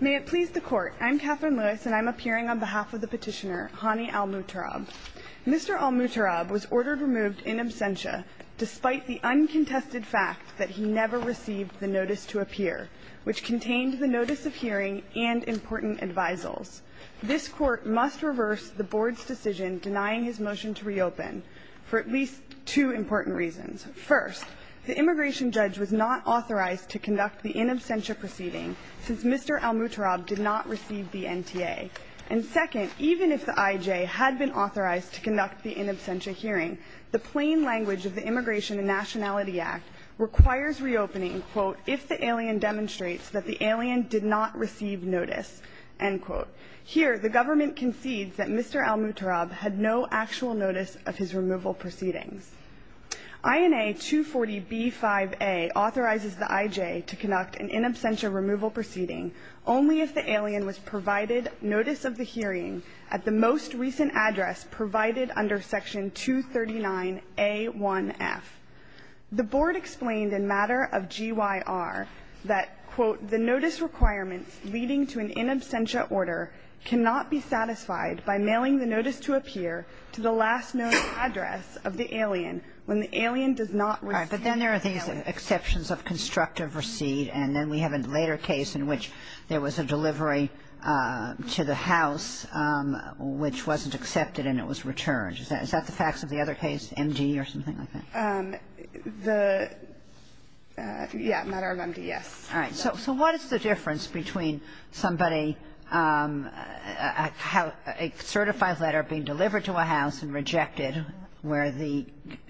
May it please the Court, I'm Katherine Lewis and I'm appearing on behalf of the petitioner, Hani al-Mutarrab. Mr. al-Mutarrab was ordered removed in absentia despite the uncontested fact that he never received the notice to appear, which contained the notice of hearing and important advisals. This Court must reverse the Board's decision denying his motion to reopen for at least two important reasons. First, the immigration judge was not authorized to conduct the in absentia proceeding since Mr. al-Mutarrab did not receive the NTA. And second, even if the IJ had been authorized to conduct the in absentia hearing, the plain language of the Immigration and Nationality Act requires reopening, quote, if the alien demonstrates that the alien did not receive notice, end quote. Here, the government concedes that Mr. al-Mutarrab had no actual notice of his removal proceedings. INA 240B5A authorizes the IJ to conduct an in absentia removal proceeding only if the alien was provided notice of the hearing at the most recent address provided under Section 239A1F. The Board explained in matter of GYR that, quote, the notice requirements leading to an in absentia order cannot be satisfied by mailing the notice to appear to the last known address of the alien when the alien does not receive the notice. Kagan. All right. But then there are these exceptions of constructive receipt, and then we have a later case in which there was a delivery to the house which wasn't accepted and it was returned. Is that the facts of the other case, MD or something like that? All right. So what is the difference between somebody, a certified letter being delivered to a house and rejected where the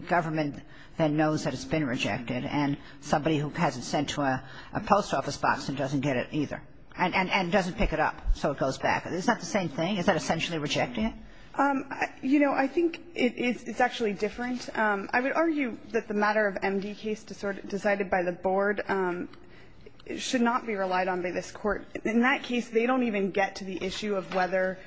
government then knows that it's been rejected and somebody who has it sent to a post office box and doesn't get it either and doesn't pick it up so it goes back? Is that the same thing? Is that essentially rejecting it? You know, I think it's actually different. I would argue that the matter of MD case decided by the Board should not be relied on by this Court. In that case, they don't even get to the issue of whether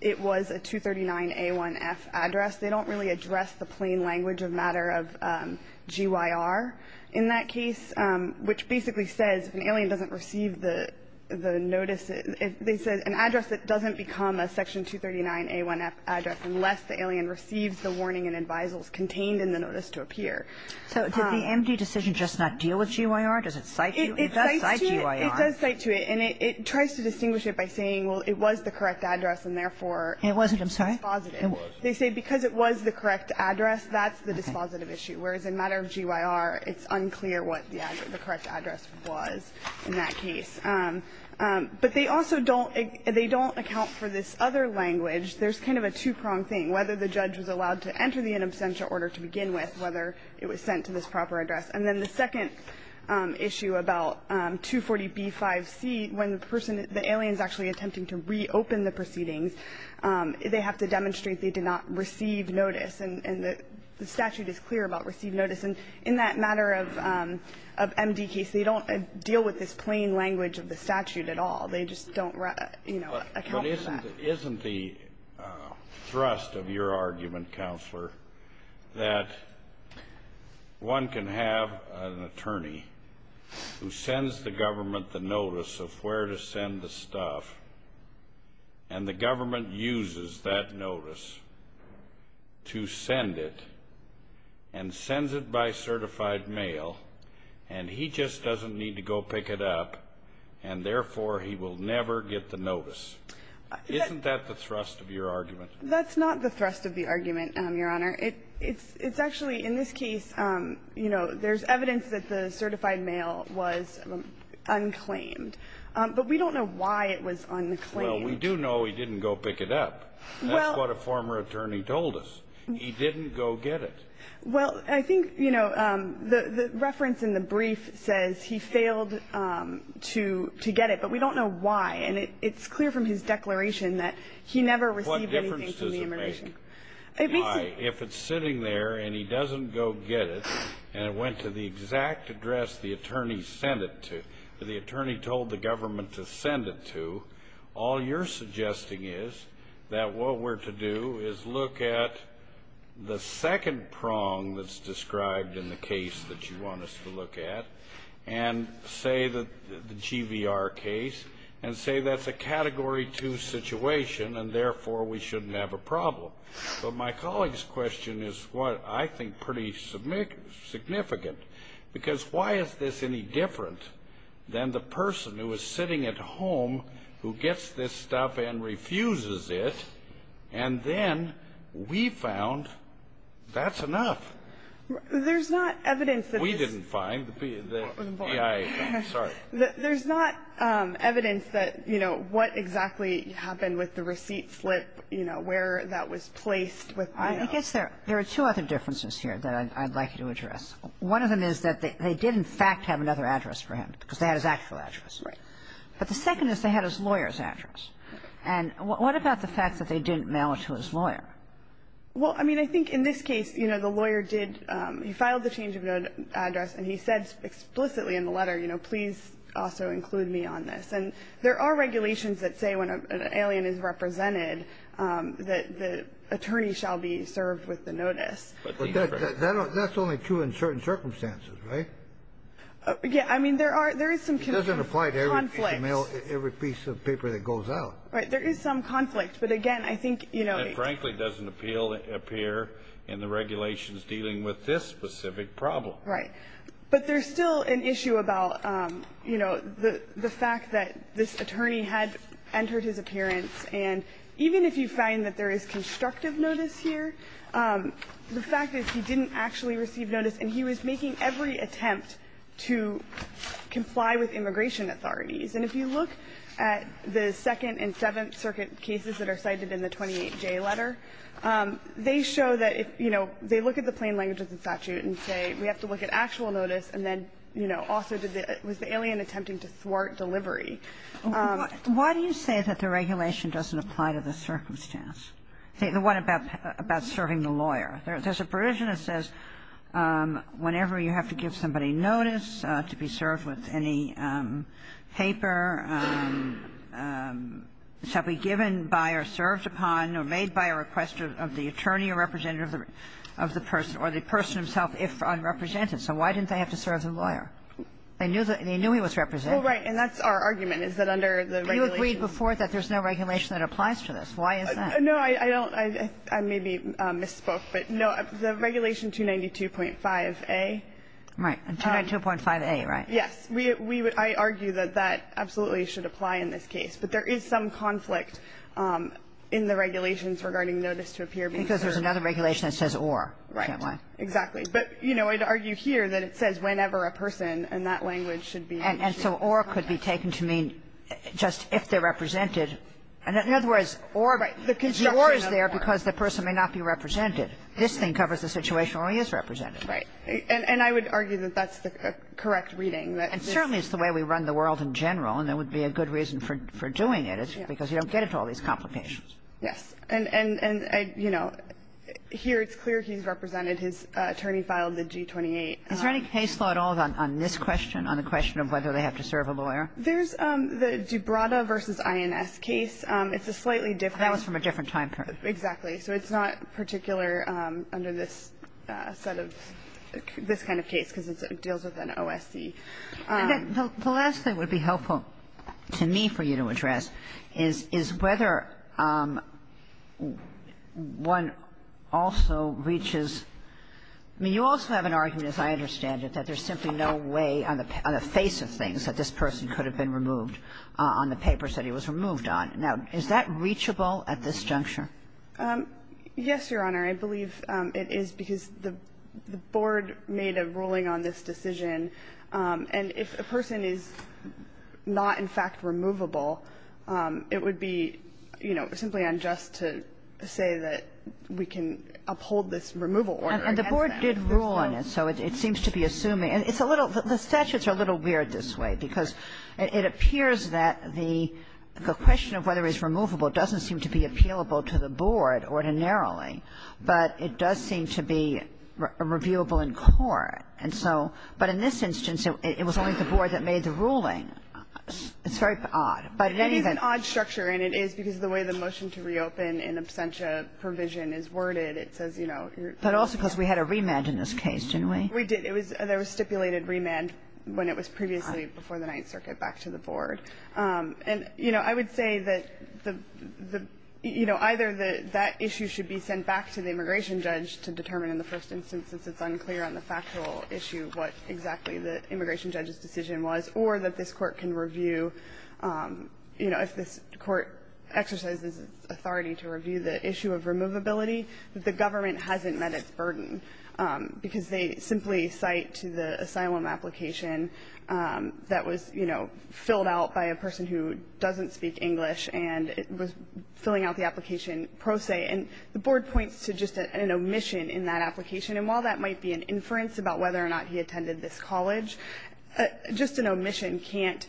it was a 239A1F address. They don't really address the plain language of matter of GYR in that case, which basically says if an alien doesn't receive the notice, they said an address that doesn't become a Section 239A1F address unless the alien receives the warning and advisals contained in the notice to appear. So did the MD decision just not deal with GYR? Does it cite GYR? It does cite GYR. It does cite to it. And it tries to distinguish it by saying, well, it was the correct address and therefore it was dispositive. It wasn't. I'm sorry. It was. They say because it was the correct address, that's the dispositive issue, whereas in matter of GYR, it's unclear what the correct address was in that case. But they also don't account for this other language. There's kind of a two-prong thing, whether the judge was allowed to enter the in absentia order to begin with, whether it was sent to this proper address. And then the second issue about 240B5C, when the person, the alien is actually attempting to reopen the proceedings, they have to demonstrate they did not receive notice. And the statute is clear about received notice. And in that matter of MD case, they don't deal with this plain language of the statute at all. They just don't, you know, account for that. But isn't the thrust of your argument, Counselor, that one can have an attorney who sends the government the notice of where to send the stuff, and the government uses that notice to send it, and sends it by certified mail, and he just doesn't need to go pick it up, and therefore, he will never get the notice? Isn't that the thrust of your argument? That's not the thrust of the argument, Your Honor. It's actually, in this case, you know, there's evidence that the certified mail was unclaimed. But we don't know why it was unclaimed. Well, we do know he didn't go pick it up. That's what a former attorney told us. He didn't go get it. Well, I think, you know, the reference in the brief says he failed to get it. But we don't know why. And it's clear from his declaration that he never received anything from the admiration. What difference does it make? If it's sitting there, and he doesn't go get it, and it went to the exact address the attorney sent it to, the attorney told the government to send it to, all you're to do is look at the second prong that's described in the case that you want us to look at, and say the GVR case, and say that's a Category 2 situation, and therefore, we shouldn't have a problem. But my colleague's question is what I think pretty significant, because why is this any different than the person who is sitting at home who gets this stuff and refuses it, and then we found that's enough? There's not evidence that this ---- We didn't find the PIA. Sorry. There's not evidence that, you know, what exactly happened with the receipt slip, you know, where that was placed with the ---- I guess there are two other differences here that I'd like you to address. One of them is that they did, in fact, have another address for him, because Right. But the second is they had his lawyer's address. And what about the fact that they didn't mail it to his lawyer? Well, I mean, I think in this case, you know, the lawyer did ---- he filed the change of address, and he said explicitly in the letter, you know, please also include me on this. And there are regulations that say when an alien is represented that the attorney shall be served with the notice. But that's only true in certain circumstances, right? Yeah, I mean, there are ---- It doesn't apply to every piece of paper that goes out. Right. There is some conflict. But again, I think, you know ---- It frankly doesn't appear in the regulations dealing with this specific problem. Right. But there's still an issue about, you know, the fact that this attorney had entered his appearance. And even if you find that there is constructive notice here, the fact is he didn't actually receive notice, and he was making every attempt to comply with immigration authorities. And if you look at the Second and Seventh Circuit cases that are cited in the 28J letter, they show that if, you know, they look at the plain language of the statute and say we have to look at actual notice, and then, you know, also did the ---- it was the alien attempting to thwart delivery. Why do you say that the regulation doesn't apply to the circumstance? What about serving the lawyer? There's a provision that says whenever you have to give somebody notice to be served with any paper, it shall be given by or served upon or made by a request of the attorney or representative of the person or the person himself if unrepresented. So why didn't they have to serve the lawyer? They knew he was represented. Well, right, and that's our argument, is that under the regulations ---- You agreed before that there's no regulation that applies to this. Why is that? No, I don't. I may be misspoke. But, no, the regulation 292.5a ---- Right. 292.5a, right? Yes. We would ---- I argue that that absolutely should apply in this case. But there is some conflict in the regulations regarding notice to appear being served. Because there's another regulation that says or. Right. Exactly. But, you know, I'd argue here that it says whenever a person, and that language should be ---- And so or could be taken to mean just if they're represented. In other words, or is there because the person may not be represented. This thing covers the situation where he is represented. Right. And I would argue that that's the correct reading, that this ---- And certainly it's the way we run the world in general, and there would be a good reason for doing it. It's because you don't get into all these complications. Yes. And, you know, here it's clear he's represented. His attorney filed the G28. Is there any case law at all on this question, on the question of whether they have to serve a lawyer? There's the Gibrata v. INS case. It's a slightly different ---- That was from a different time period. Exactly. So it's not particular under this set of ---- this kind of case, because it deals with an OSC. The last thing that would be helpful to me for you to address is whether one also reaches ---- I mean, you also have an argument, as I understand it, that there's simply no way on the face of things that this person could have been removed on the papers that he was removed on. Now, is that reachable at this juncture? Yes, Your Honor. I believe it is, because the board made a ruling on this decision. And if a person is not, in fact, removable, it would be, you know, simply unjust to say that we can uphold this removal order against them. And the board did rule on it. So it seems to be assuming ---- and it's a little ---- the statutes are a little weird this way, because it appears that the question of whether he's removable doesn't seem to be appealable to the board ordinarily. But it does seem to be reviewable in court. And so ---- but in this instance, it was only the board that made the ruling. It's very odd. But in any event ---- It is an odd structure, and it is because of the way the motion to reopen in absentia provision is worded. It says, you know, you're ---- But also because we had a remand in this case, didn't we? We did. It was ---- there was stipulated remand when it was previously before the Ninth Circuit back to the board. And, you know, I would say that the ---- you know, either that that issue should be sent back to the immigration judge to determine in the first instance, since it's unclear on the factual issue what exactly the immigration judge's decision was, or that this Court can review, you know, if this Court exercises authority to review the issue of removability, that the government hasn't met its burden because they simply cite to the asylum application that was, you know, filled out by a person who doesn't speak English, and it was filling out the application pro se, and the board points to just an omission in that application. And while that might be an inference about whether or not he attended this college, just an omission can't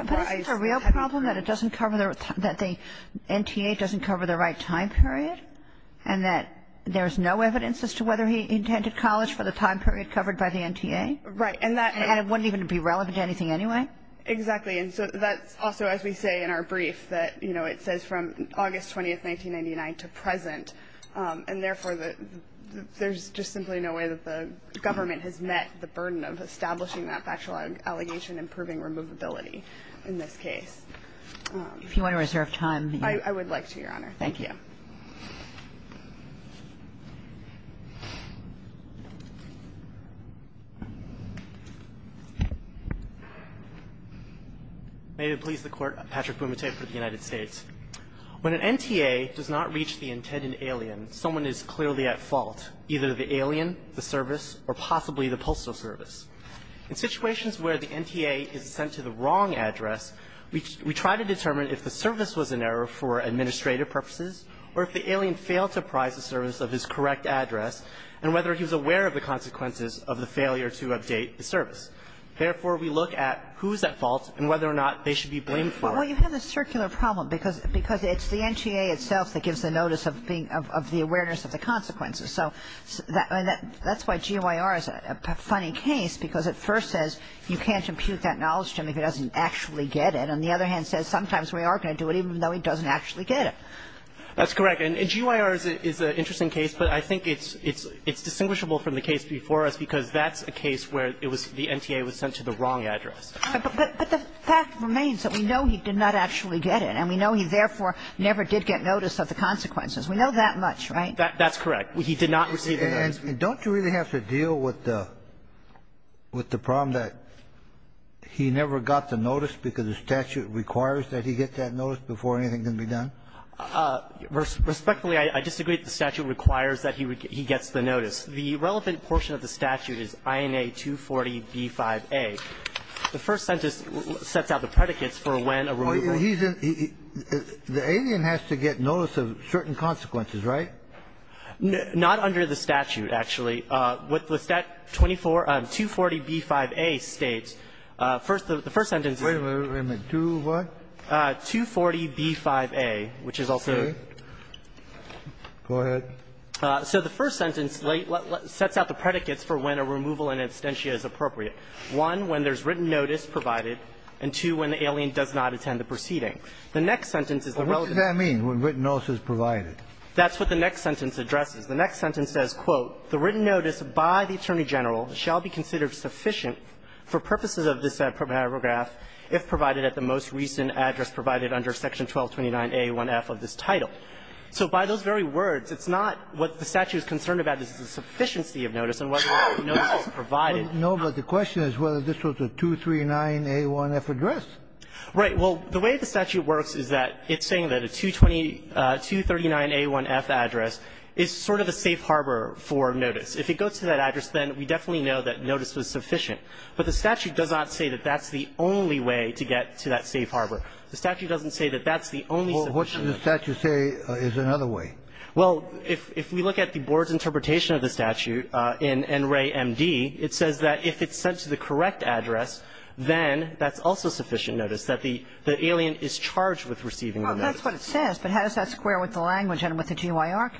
---- But isn't the real problem that it doesn't cover the ---- that the NTA doesn't cover the right time period, and that there's no evidence as to whether he attended college for the time period covered by the NTA? Right. And that ---- And it wouldn't even be relevant to anything anyway? Exactly. And so that's also, as we say in our brief, that, you know, it says from August 20, 1999 to present, and therefore, there's just simply no way that the government has met the burden of establishing that factual allegation and proving removability in this case. If you want to reserve time ---- I would like to, Your Honor. Thank you. May it please the Court. Patrick Bumate for the United States. When an NTA does not reach the intended alien, someone is clearly at fault, either the alien, the service, or possibly the postal service. In situations where the NTA is sent to the wrong address, we try to determine if the service was an error for administrative purposes or if the alien failed to apprise the service of his correct address, and whether he was aware of the consequences of the failure to update the service. Therefore, we look at who's at fault and whether or not they should be blamed for it. Well, you have a circular problem, because it's the NTA itself that gives the notice of being ---- of the awareness of the consequences. So that's why GYR is a funny case, because it first says you can't impute that knowledge to him if he doesn't actually get it. And on the other hand, it says sometimes we are going to do it even though he doesn't actually get it. That's correct. And GYR is an interesting case, but I think it's distinguishable from the case before us, because that's a case where it was the NTA was sent to the wrong address. But the fact remains that we know he did not actually get it, and we know he therefore never did get notice of the consequences. We know that much, right? That's correct. He did not receive the notice. And don't you really have to deal with the problem that he never got the notice because the statute requires that he get that notice before anything can be done? Respectfully, I disagree that the statute requires that he gets the notice. The relevant portion of the statute is INA 240b-5a. The first sentence sets out the predicates for when a removal ---- He's in ---- the alien has to get notice of certain consequences, right? Not under the statute, actually. With that 24 ---- 240b-5a states, first, the first sentence ---- Wait a minute. Two what? 240b-5a, which is also ---- Okay. Go ahead. So the first sentence sets out the predicates for when a removal in absentia is appropriate. One, when there's written notice provided, and two, when the alien does not attend the proceeding. The next sentence is the relevant ---- What does that mean, when written notice is provided? That's what the next sentence addresses. The next sentence says, quote, the written notice by the Attorney General shall be considered sufficient for purposes of this paragraph if provided at the most recent address provided under Section 1229a-1f of this title. So by those very words, it's not what the statute is concerned about. This is the sufficiency of notice and whether the notice is provided. No, but the question is whether this was a 239a-1f address. Right. Well, the way the statute works is that it's saying that a 229a-1f address is sort of the safe harbor for notice. If it goes to that address, then we definitely know that notice was sufficient. But the statute does not say that that's the only way to get to that safe harbor. The statute doesn't say that that's the only ---- Well, what should the statute say is another way? Well, if we look at the board's interpretation of the statute in NREA MD, it says that if it's sent to the correct address, then that's also sufficient notice, that the alien is charged with receiving the notice. Well, that's what it says, but how does that square with the language and with the statute?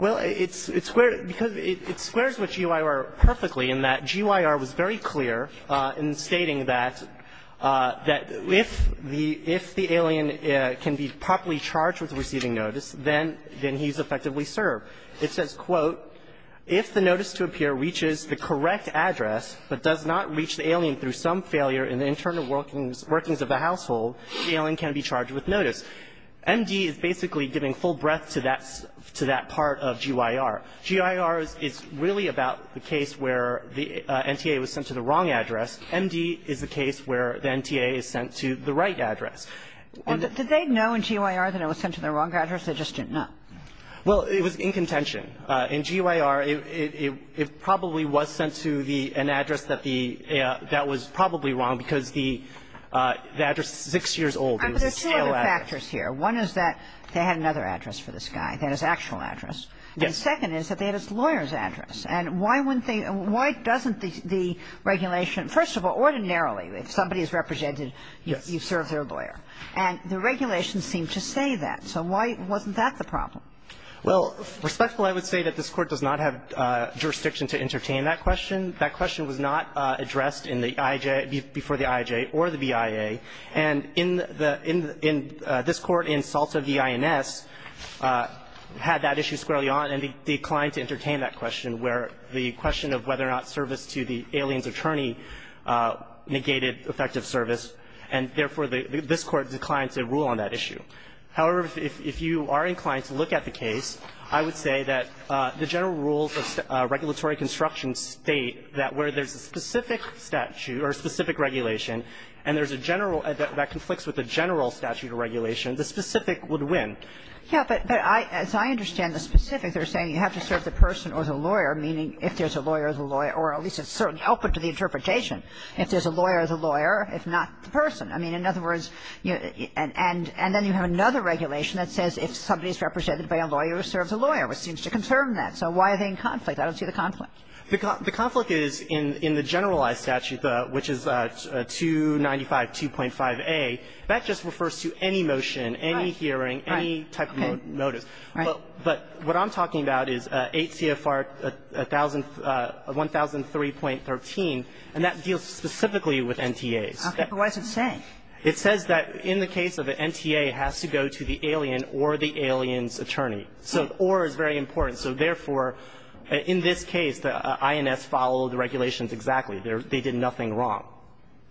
It squares with GYR perfectly in that GYR was very clear in stating that if the alien can be properly charged with receiving notice, then he's effectively served. It says, quote, if the notice to appear reaches the correct address but does not reach the alien through some failure in the internal workings of the household, the alien can be charged with notice. MD is basically giving full breadth to that part of GYR. GYR is really about the case where the NTA was sent to the wrong address. MD is the case where the NTA is sent to the right address. And did they know in GYR that it was sent to the wrong address? They just didn't know. Well, it was in contention. In GYR, it probably was sent to an address that the ---- that was probably wrong because the address is 6 years old. It was a scale address. But there's two other factors here. One is that they had another address for this guy, that is, actual address. Yes. And the second is that they had a lawyer's address. And why wouldn't they ---- why doesn't the regulation ---- first of all, ordinarily if somebody is represented, you serve their lawyer. And the regulations seem to say that. So why wasn't that the problem? Well, respectfully, I would say that this Court does not have jurisdiction to entertain that question. That question was not addressed in the IJ, before the IJ or the BIA. And in the ---- in this Court, in SALTA v. INS, had that issue squarely on and declined to entertain that question, where the question of whether or not service to the alien's attorney negated effective service. And therefore, this Court declined to rule on that issue. However, if you are inclined to look at the case, I would say that the general rules of regulatory construction state that where there's a specific statute or a specific regulation, and there's a general ---- that conflicts with the general statute or regulation, the specific would win. Yeah, but I ---- as I understand the specifics, they're saying you have to serve the person or the lawyer, meaning if there's a lawyer, the lawyer, or at least a certain output to the interpretation. If there's a lawyer, the lawyer, if not the person. I mean, in other words, and then you have another regulation that says if somebody is represented by a lawyer, you serve the lawyer, which seems to confirm that. So why are they in conflict? I don't see the conflict. The conflict is in the generalized statute, which is 295-2.5a. That just refers to any motion, any hearing, any type of motive. Right. But what I'm talking about is 8 CFR 1003.13, and that deals specifically with NTAs. Okay. But what does it say? It says that in the case of an NTA, it has to go to the alien or the alien's attorney. So or is very important. So therefore, in this case, the INS followed the regulations exactly. They did nothing wrong.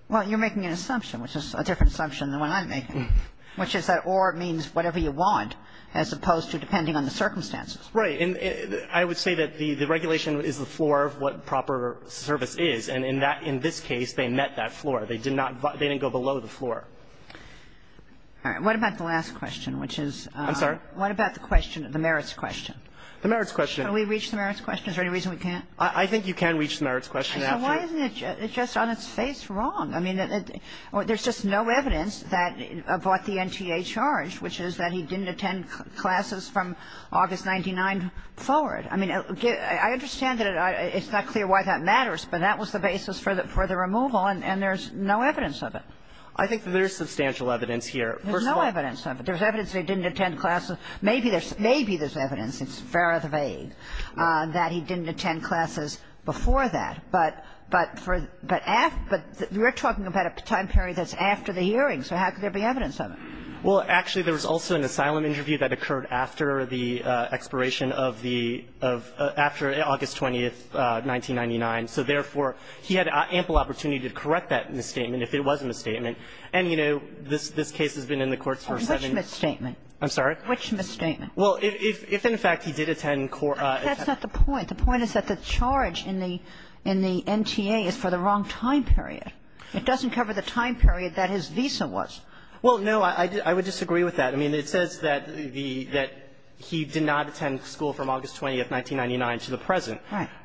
Well, you're making an assumption, which is a different assumption than what I'm making, which is that or means whatever you want, as opposed to depending on the circumstances. Right. And I would say that the regulation is the floor of what proper service is. And in this case, they met that floor. They did not go below the floor. All right. What about the last question, which is the merits question? The merits question. Can we reach the merits question? Is there any reason we can't? I think you can reach the merits question after you. So why isn't it just on its face wrong? I mean, there's just no evidence that about the NTA charge, which is that he didn't attend classes from August 1999 forward. I mean, I understand that it's not clear why that matters, but that was the basis for the removal, and there's no evidence of it. I think there's substantial evidence here. There's no evidence of it. There's evidence that he didn't attend classes. Maybe there's evidence, it's far out of the vague, that he didn't attend classes before that. But for the after we're talking about a time period that's after the hearing, so how could there be evidence of it? Well, actually, there was also an asylum interview that occurred after the expiration of the of after August 20th, 1999. So therefore, he had ample opportunity to correct that misstatement if it was a misstatement. And, you know, this case has been in the courts for seven years. Which misstatement? Which misstatement? Well, if in fact he did attend court. That's not the point. The point is that the charge in the NTA is for the wrong time period. It doesn't cover the time period that his visa was. Well, no, I would disagree with that. I mean, it says that he did not attend school from August 20th, 1999 to the present.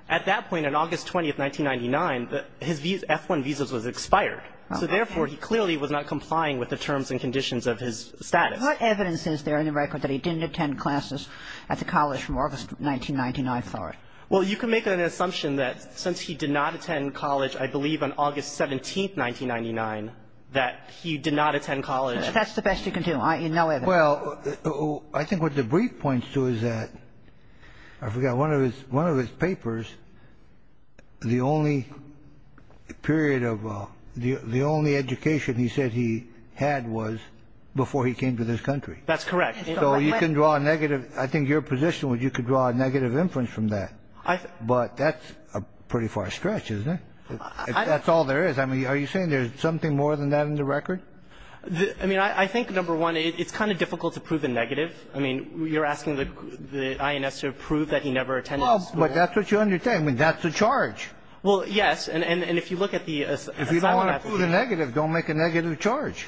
At that point, on August 20th, 1999, his F-1 visa was expired. So therefore, he clearly was not complying with the terms and conditions of his status. So what evidence is there in the record that he didn't attend classes at the college from August 1999 forward? Well, you can make an assumption that since he did not attend college, I believe on August 17th, 1999, that he did not attend college. That's the best you can do. No evidence. Well, I think what the brief points to is that one of his papers, the only period of the only education he said he had was before he came to this country. That's correct. So you can draw a negative. I think your position was you could draw a negative inference from that. But that's a pretty far stretch, isn't it? That's all there is. I mean, are you saying there's something more than that in the record? I mean, I think, number one, it's kind of difficult to prove a negative. I mean, you're asking the INS to prove that he never attended school. Well, but that's what you're saying. That's the charge. Well, yes. And if you look at the asylum application. If you don't want to prove a negative, don't make a negative charge.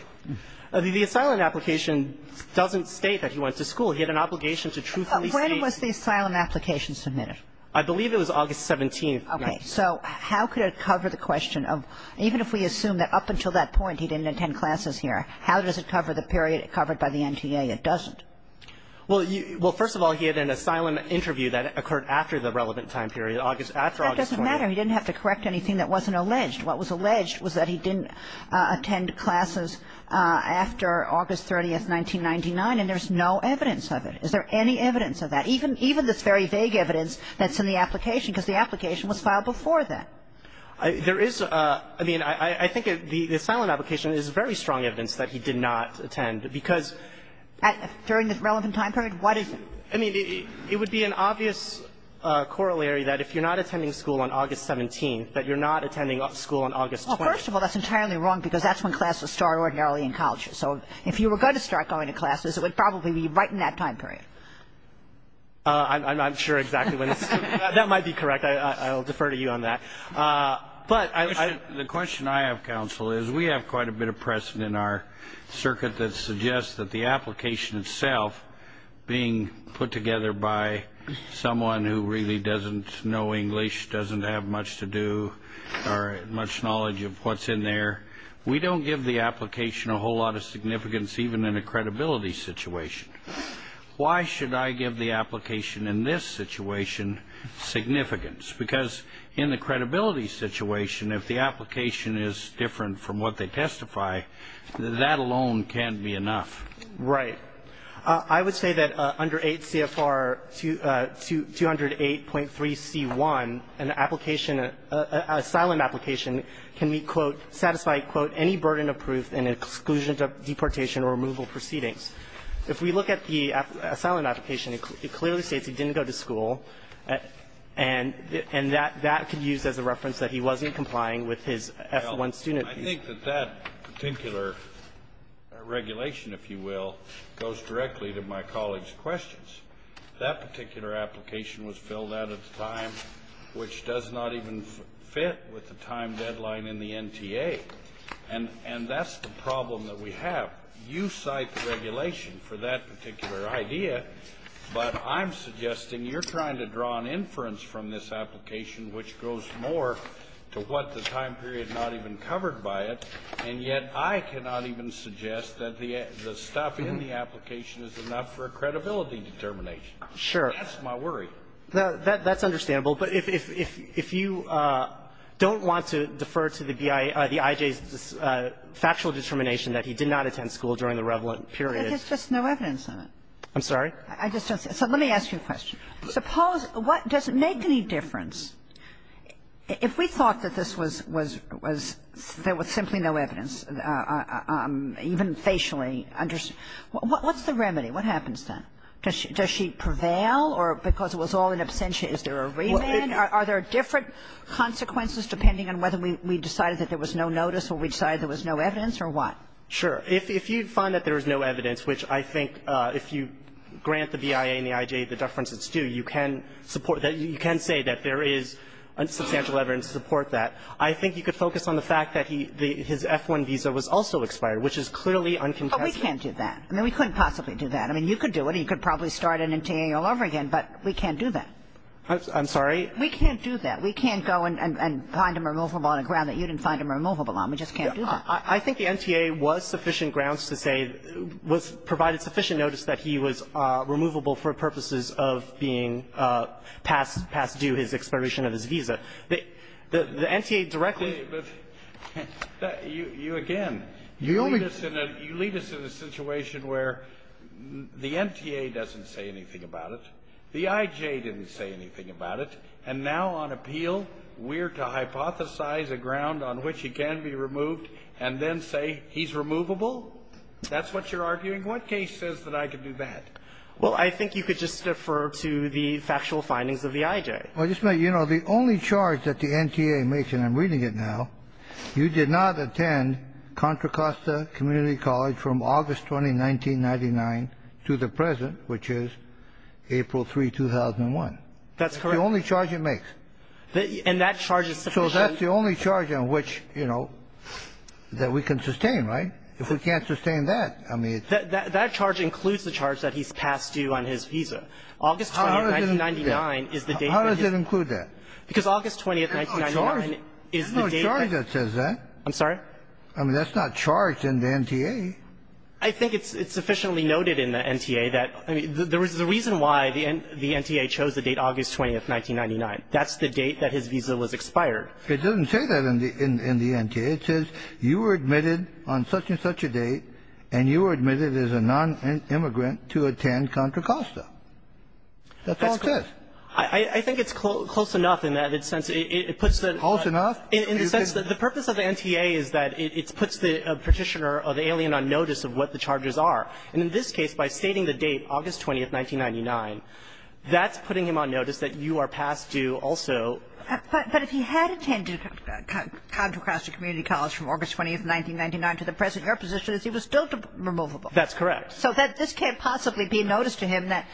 The asylum application doesn't state that he went to school. He had an obligation to truthfully state. When was the asylum application submitted? I believe it was August 17th. Okay. So how could it cover the question of even if we assume that up until that point he didn't attend classes here, how does it cover the period covered by the NTA? It doesn't. Well, first of all, he had an asylum interview that occurred after the relevant time period, after August 20th. That doesn't matter. He didn't have to correct anything that wasn't alleged. What was alleged was that he didn't attend classes after August 30th, 1999, and there's no evidence of it. Is there any evidence of that? Even this very vague evidence that's in the application, because the application was filed before that. There is a – I mean, I think the asylum application is very strong evidence that he did not attend because at – During the relevant time period? What is it? I mean, it would be an obvious corollary that if you're not attending school on August 17th, that you're not attending school on August 20th. Well, first of all, that's entirely wrong because that's when classes start ordinarily in college. So if you were going to start going to classes, it would probably be right in that time period. I'm not sure exactly when. That might be correct. I'll defer to you on that. But I – The question I have, counsel, is we have quite a bit of precedent in our circuit that suggests that the application itself, being put together by someone who really doesn't know English, doesn't have much to do or much knowledge of what's in there, we don't give the application a whole lot of significance even in a credibility situation. Why should I give the application in this situation significance? Because in the credibility situation, if the application is different from what they testify, that alone can't be enough. Right. I would say that under 8 CFR 208.3c1, an application, an asylum application can be, quote, satisfied, quote, any burden of proof in exclusion to deportation or removal proceedings. If we look at the asylum application, it clearly states he didn't go to school, and that could be used as a reference that he wasn't complying with his F-1 student – I think that that particular regulation, if you will, goes directly to my colleague's questions. That particular application was filled out at a time which does not even fit with the time deadline in the NTA. And that's the problem that we have. You cite the regulation for that particular idea, but I'm suggesting you're trying to draw an inference from this application which goes more to what the time period is not even covered by it, and yet I cannot even suggest that the stuff in the application is enough for a credibility determination. Sure. That's my worry. That's understandable. But if you don't want to defer to the IJ's factual determination that he did not attend school during the relevant period – There's just no evidence on it. I'm sorry? I just don't see it. So let me ask you a question. Suppose – does it make any difference if we thought that this was – there was simply no evidence, even facially? What's the remedy? What happens then? Does she prevail or because it was all an absentia, is there a remand? Are there different consequences depending on whether we decided that there was no notice or we decided there was no evidence, or what? Sure. If you find that there is no evidence, which I think if you grant the BIA and the defense it's due, you can support – you can say that there is substantial evidence to support that. I think you could focus on the fact that his F-1 visa was also expired, which is clearly uncontested. But we can't do that. I mean, we couldn't possibly do that. I mean, you could do it. You could probably start an NTA all over again, but we can't do that. I'm sorry? We can't do that. We can't go and find him removable on a ground that you didn't find him removable on. We just can't do that. I think the NTA was sufficient grounds to say – was – provided sufficient that he was removable for purposes of being passed due his expiration of his visa. The NTA directly – But you again – You only – You lead us in a situation where the NTA doesn't say anything about it, the IJ didn't say anything about it, and now on appeal we're to hypothesize a ground on which he can be removed and then say he's removable? That's what you're arguing? What case says that I can do that? Well, I think you could just defer to the factual findings of the IJ. Well, you know, the only charge that the NTA makes – and I'm reading it now – you did not attend Contra Costa Community College from August 20, 1999 to the present, which is April 3, 2001. That's correct. That's the only charge it makes. And that charge is sufficient? So that's the only charge on which, you know, that we can sustain, right? If we can't sustain that, I mean – That charge includes the charge that he's passed due on his visa. August 20, 1999 is the date that he – How does it include that? Because August 20, 1999 is the date that – There's no charge that says that. I'm sorry? I mean, that's not charged in the NTA. I think it's sufficiently noted in the NTA that – I mean, the reason why the NTA chose the date August 20, 1999, that's the date that his visa was expired. It doesn't say that in the NTA. It says you were admitted on such-and-such a date, and you were admitted as a nonimmigrant to attend Contra Costa. That's all it says. I think it's close enough in that it puts the – Close enough? In the sense that the purpose of the NTA is that it puts the Petitioner or the alien on notice of what the charges are. And in this case, by stating the date, August 20, 1999, that's putting him on notice that you are passed due also. But if he had attended Contra Costa Community College from August 20, 1999 to the present, your position is he was still removable. That's correct. So this can't possibly be noticed to him that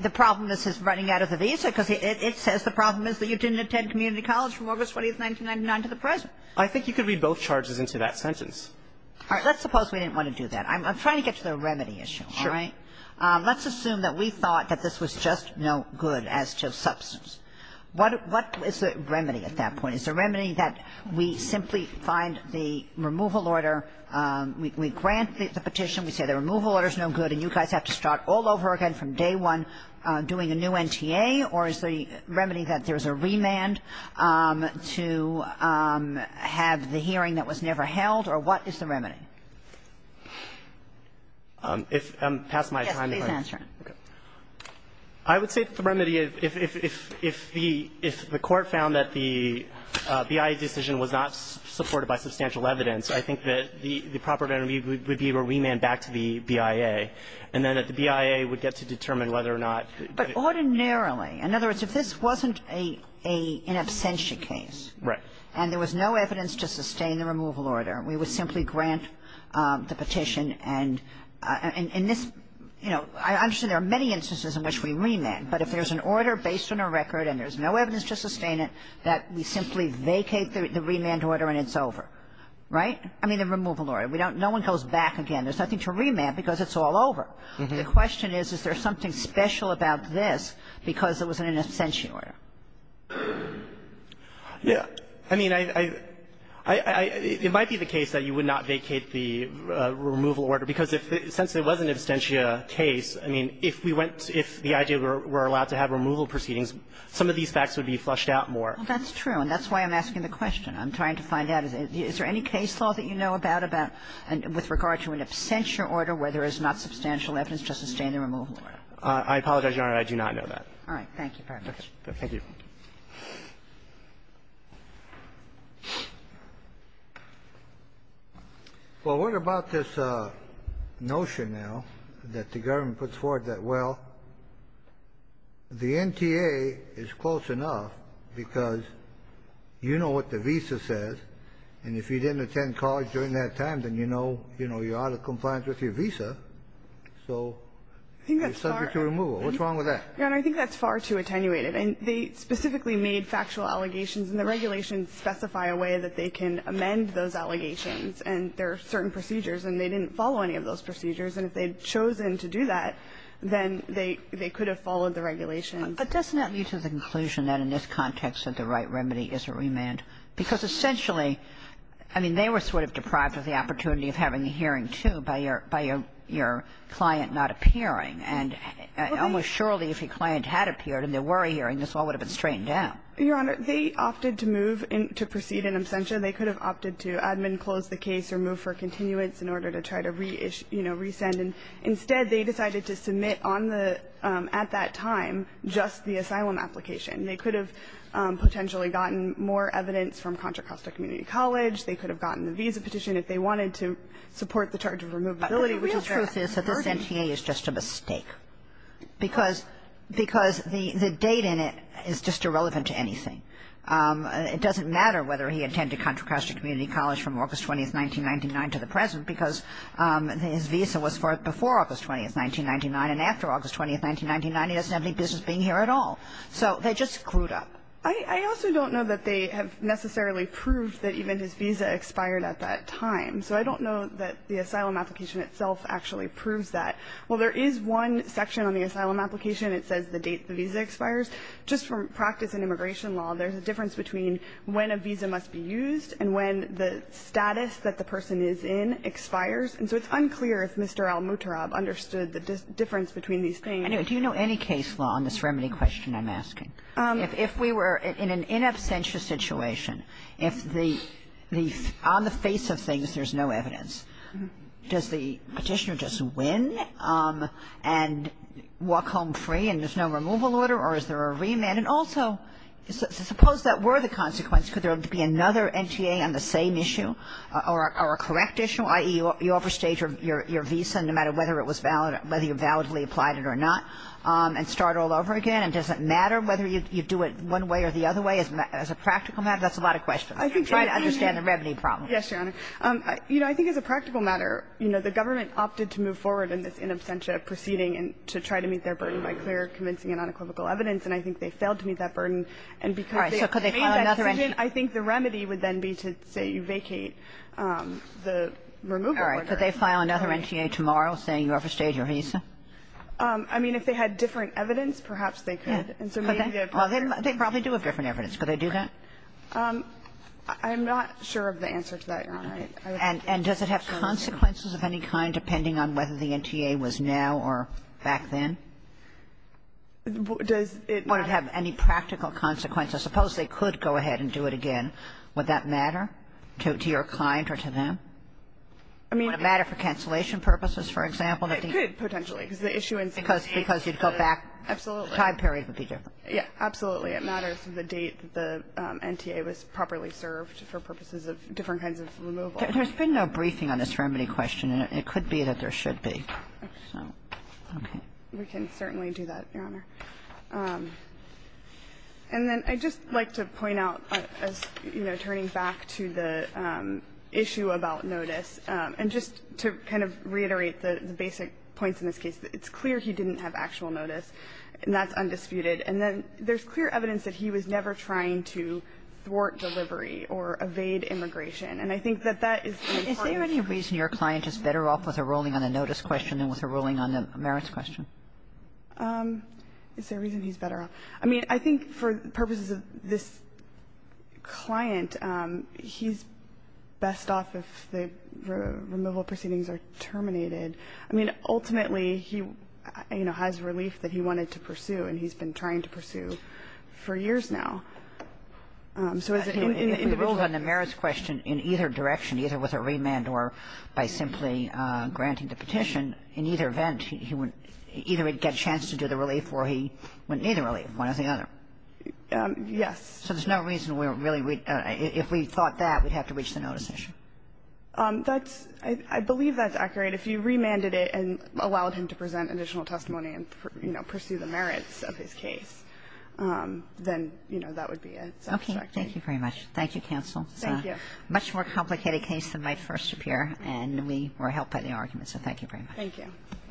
the problem is his running out of the visa, because it says the problem is that you didn't attend community college from August 20, 1999 to the present. I think you could read both charges into that sentence. All right. Let's suppose we didn't want to do that. I'm trying to get to the remedy issue, all right? Sure. Let's assume that we thought that this was just no good as to substance. What is the remedy at that point? Is the remedy that we simply find the removal order, we grant the petition, we say the removal order is no good, and you guys have to start all over again from day one doing a new NTA? Or is the remedy that there's a remand to have the hearing that was never held? Or what is the remedy? If I'm past my time. Yes, please answer. I would say that the remedy, if the court found that the BIA decision was not supported by substantial evidence, I think that the proper remedy would be a remand back to the BIA, and then that the BIA would get to determine whether or not. But ordinarily, in other words, if this wasn't an absentia case. Right. And there was no evidence to sustain the removal order, we would simply grant the There are many instances in which we remand. But if there's an order based on a record and there's no evidence to sustain it, that we simply vacate the remand order and it's over. Right? I mean, the removal order. No one goes back again. There's nothing to remand because it's all over. The question is, is there something special about this because it was an absentia order? Yeah. I mean, it might be the case that you would not vacate the removal order, because if, since it was an absentia case, I mean, if we went, if the idea were allowed to have removal proceedings, some of these facts would be flushed out more. Well, that's true, and that's why I'm asking the question. I'm trying to find out, is there any case law that you know about, about, with regard to an absentia order where there is not substantial evidence to sustain the removal order? I apologize, Your Honor, I do not know that. All right. Thank you very much. Thank you. Well, what about this notion now that the government puts forward that, well, the NTA is close enough because you know what the visa says, and if you didn't attend college during that time, then you know you're out of compliance with your visa, so you're subject to removal. What's wrong with that? Your Honor, I think that's far too attenuated. And they specifically made factual allegations, and the regulations specify a way that they can amend those allegations, and there are certain procedures and they didn't follow any of those procedures. And if they'd chosen to do that, then they could have followed the regulations. But doesn't that lead to the conclusion that in this context that the right remedy is a remand? Because essentially, I mean, they were sort of deprived of the opportunity of having a hearing, too, by your client not appearing. And almost surely if your client had appeared and there were a hearing, this all would have been straightened out. Your Honor, they opted to move and to proceed in absentia. They could have opted to admin close the case or move for continuance in order to try to reissue, you know, resend. And instead, they decided to submit on the at that time just the asylum application. They could have potentially gotten more evidence from Contra Costa Community College. They could have gotten the visa petition if they wanted to support the charge of removability, which is very important. The problem is that the sentient is just a mistake because the date in it is just irrelevant to anything. It doesn't matter whether he attended Contra Costa Community College from August 20th, 1999 to the present because his visa was forth before August 20th, 1999. And after August 20th, 1999, he doesn't have any business being here at all. So they just screwed up. I also don't know that they have necessarily proved that even his visa expired at that time. So I don't know that the asylum application itself actually proves that. While there is one section on the asylum application, it says the date the visa expires, just from practice in immigration law, there's a difference between when a visa must be used and when the status that the person is in expires. And so it's unclear if Mr. Al-Mutarab understood the difference between these things. Kagan. Do you know any case law on this remedy question I'm asking? If we were in an in absentia situation, if the the on the face of things there's no evidence, does the Petitioner just win and walk home free and there's no removal order or is there a remand? And also, suppose that were the consequence. Could there be another NTA on the same issue or a correct issue, i.e., you overstage your visa no matter whether it was valid or whether you validly applied it or not and start all over again? Does it matter whether you do it one way or the other way as a practical matter? That's a lot of questions. Try to understand the remedy problem. Yes, Your Honor. You know, I think as a practical matter, you know, the government opted to move forward in this in absentia proceeding and to try to meet their burden by clear convincing and unequivocal evidence. And I think they failed to meet that burden. And because they made that decision, I think the remedy would then be to say you vacate the removal order. All right. Could they file another NTA tomorrow saying you overstayed your visa? I mean, if they had different evidence, perhaps they could. Could they? Well, they probably do have different evidence. Could they do that? I'm not sure of the answer to that, Your Honor. And does it have consequences of any kind depending on whether the NTA was now or back then? Does it not? Would it have any practical consequences? Suppose they could go ahead and do it again. Would that matter to your client or to them? I mean, would it matter for cancellation purposes, for example? It could, potentially, because the issuance dates. Because you'd go back. Absolutely. The time period would be different. Yes, absolutely. It matters the date the NTA was properly served for purposes of different kinds of removal. There's been no briefing on this remedy question, and it could be that there should be. So, okay. We can certainly do that, Your Honor. And then I'd just like to point out, as, you know, turning back to the issue about notice, and just to kind of reiterate the basic points in this case, it's clear he didn't have actual notice, and that's undisputed. And then there's clear evidence that he was never trying to thwart delivery or evade immigration. And I think that that is an important point. Is there any reason your client is better off with a ruling on the notice question than with a ruling on the merits question? Is there a reason he's better off? I mean, I think for purposes of this client, he's best off if the removal proceedings are terminated. I mean, ultimately, he, you know, has relief that he wanted to pursue and he's been trying to pursue for years now. So is it in the individual case? He ruled on the merits question in either direction, either with a remand or by simply granting the petition. In either event, he would either get a chance to do the relief or he wouldn't need the relief, one or the other. Yes. So there's no reason we're really we'd – if we thought that, we'd have to reach the notice issue. That's – I believe that's accurate. But if you remanded it and allowed him to present additional testimony and, you know, pursue the merits of his case, then, you know, that would be a satisfactory. Okay. Thank you very much. Thank you, counsel. Thank you. It's a much more complicated case than might first appear, and we were helped by the argument. So thank you very much.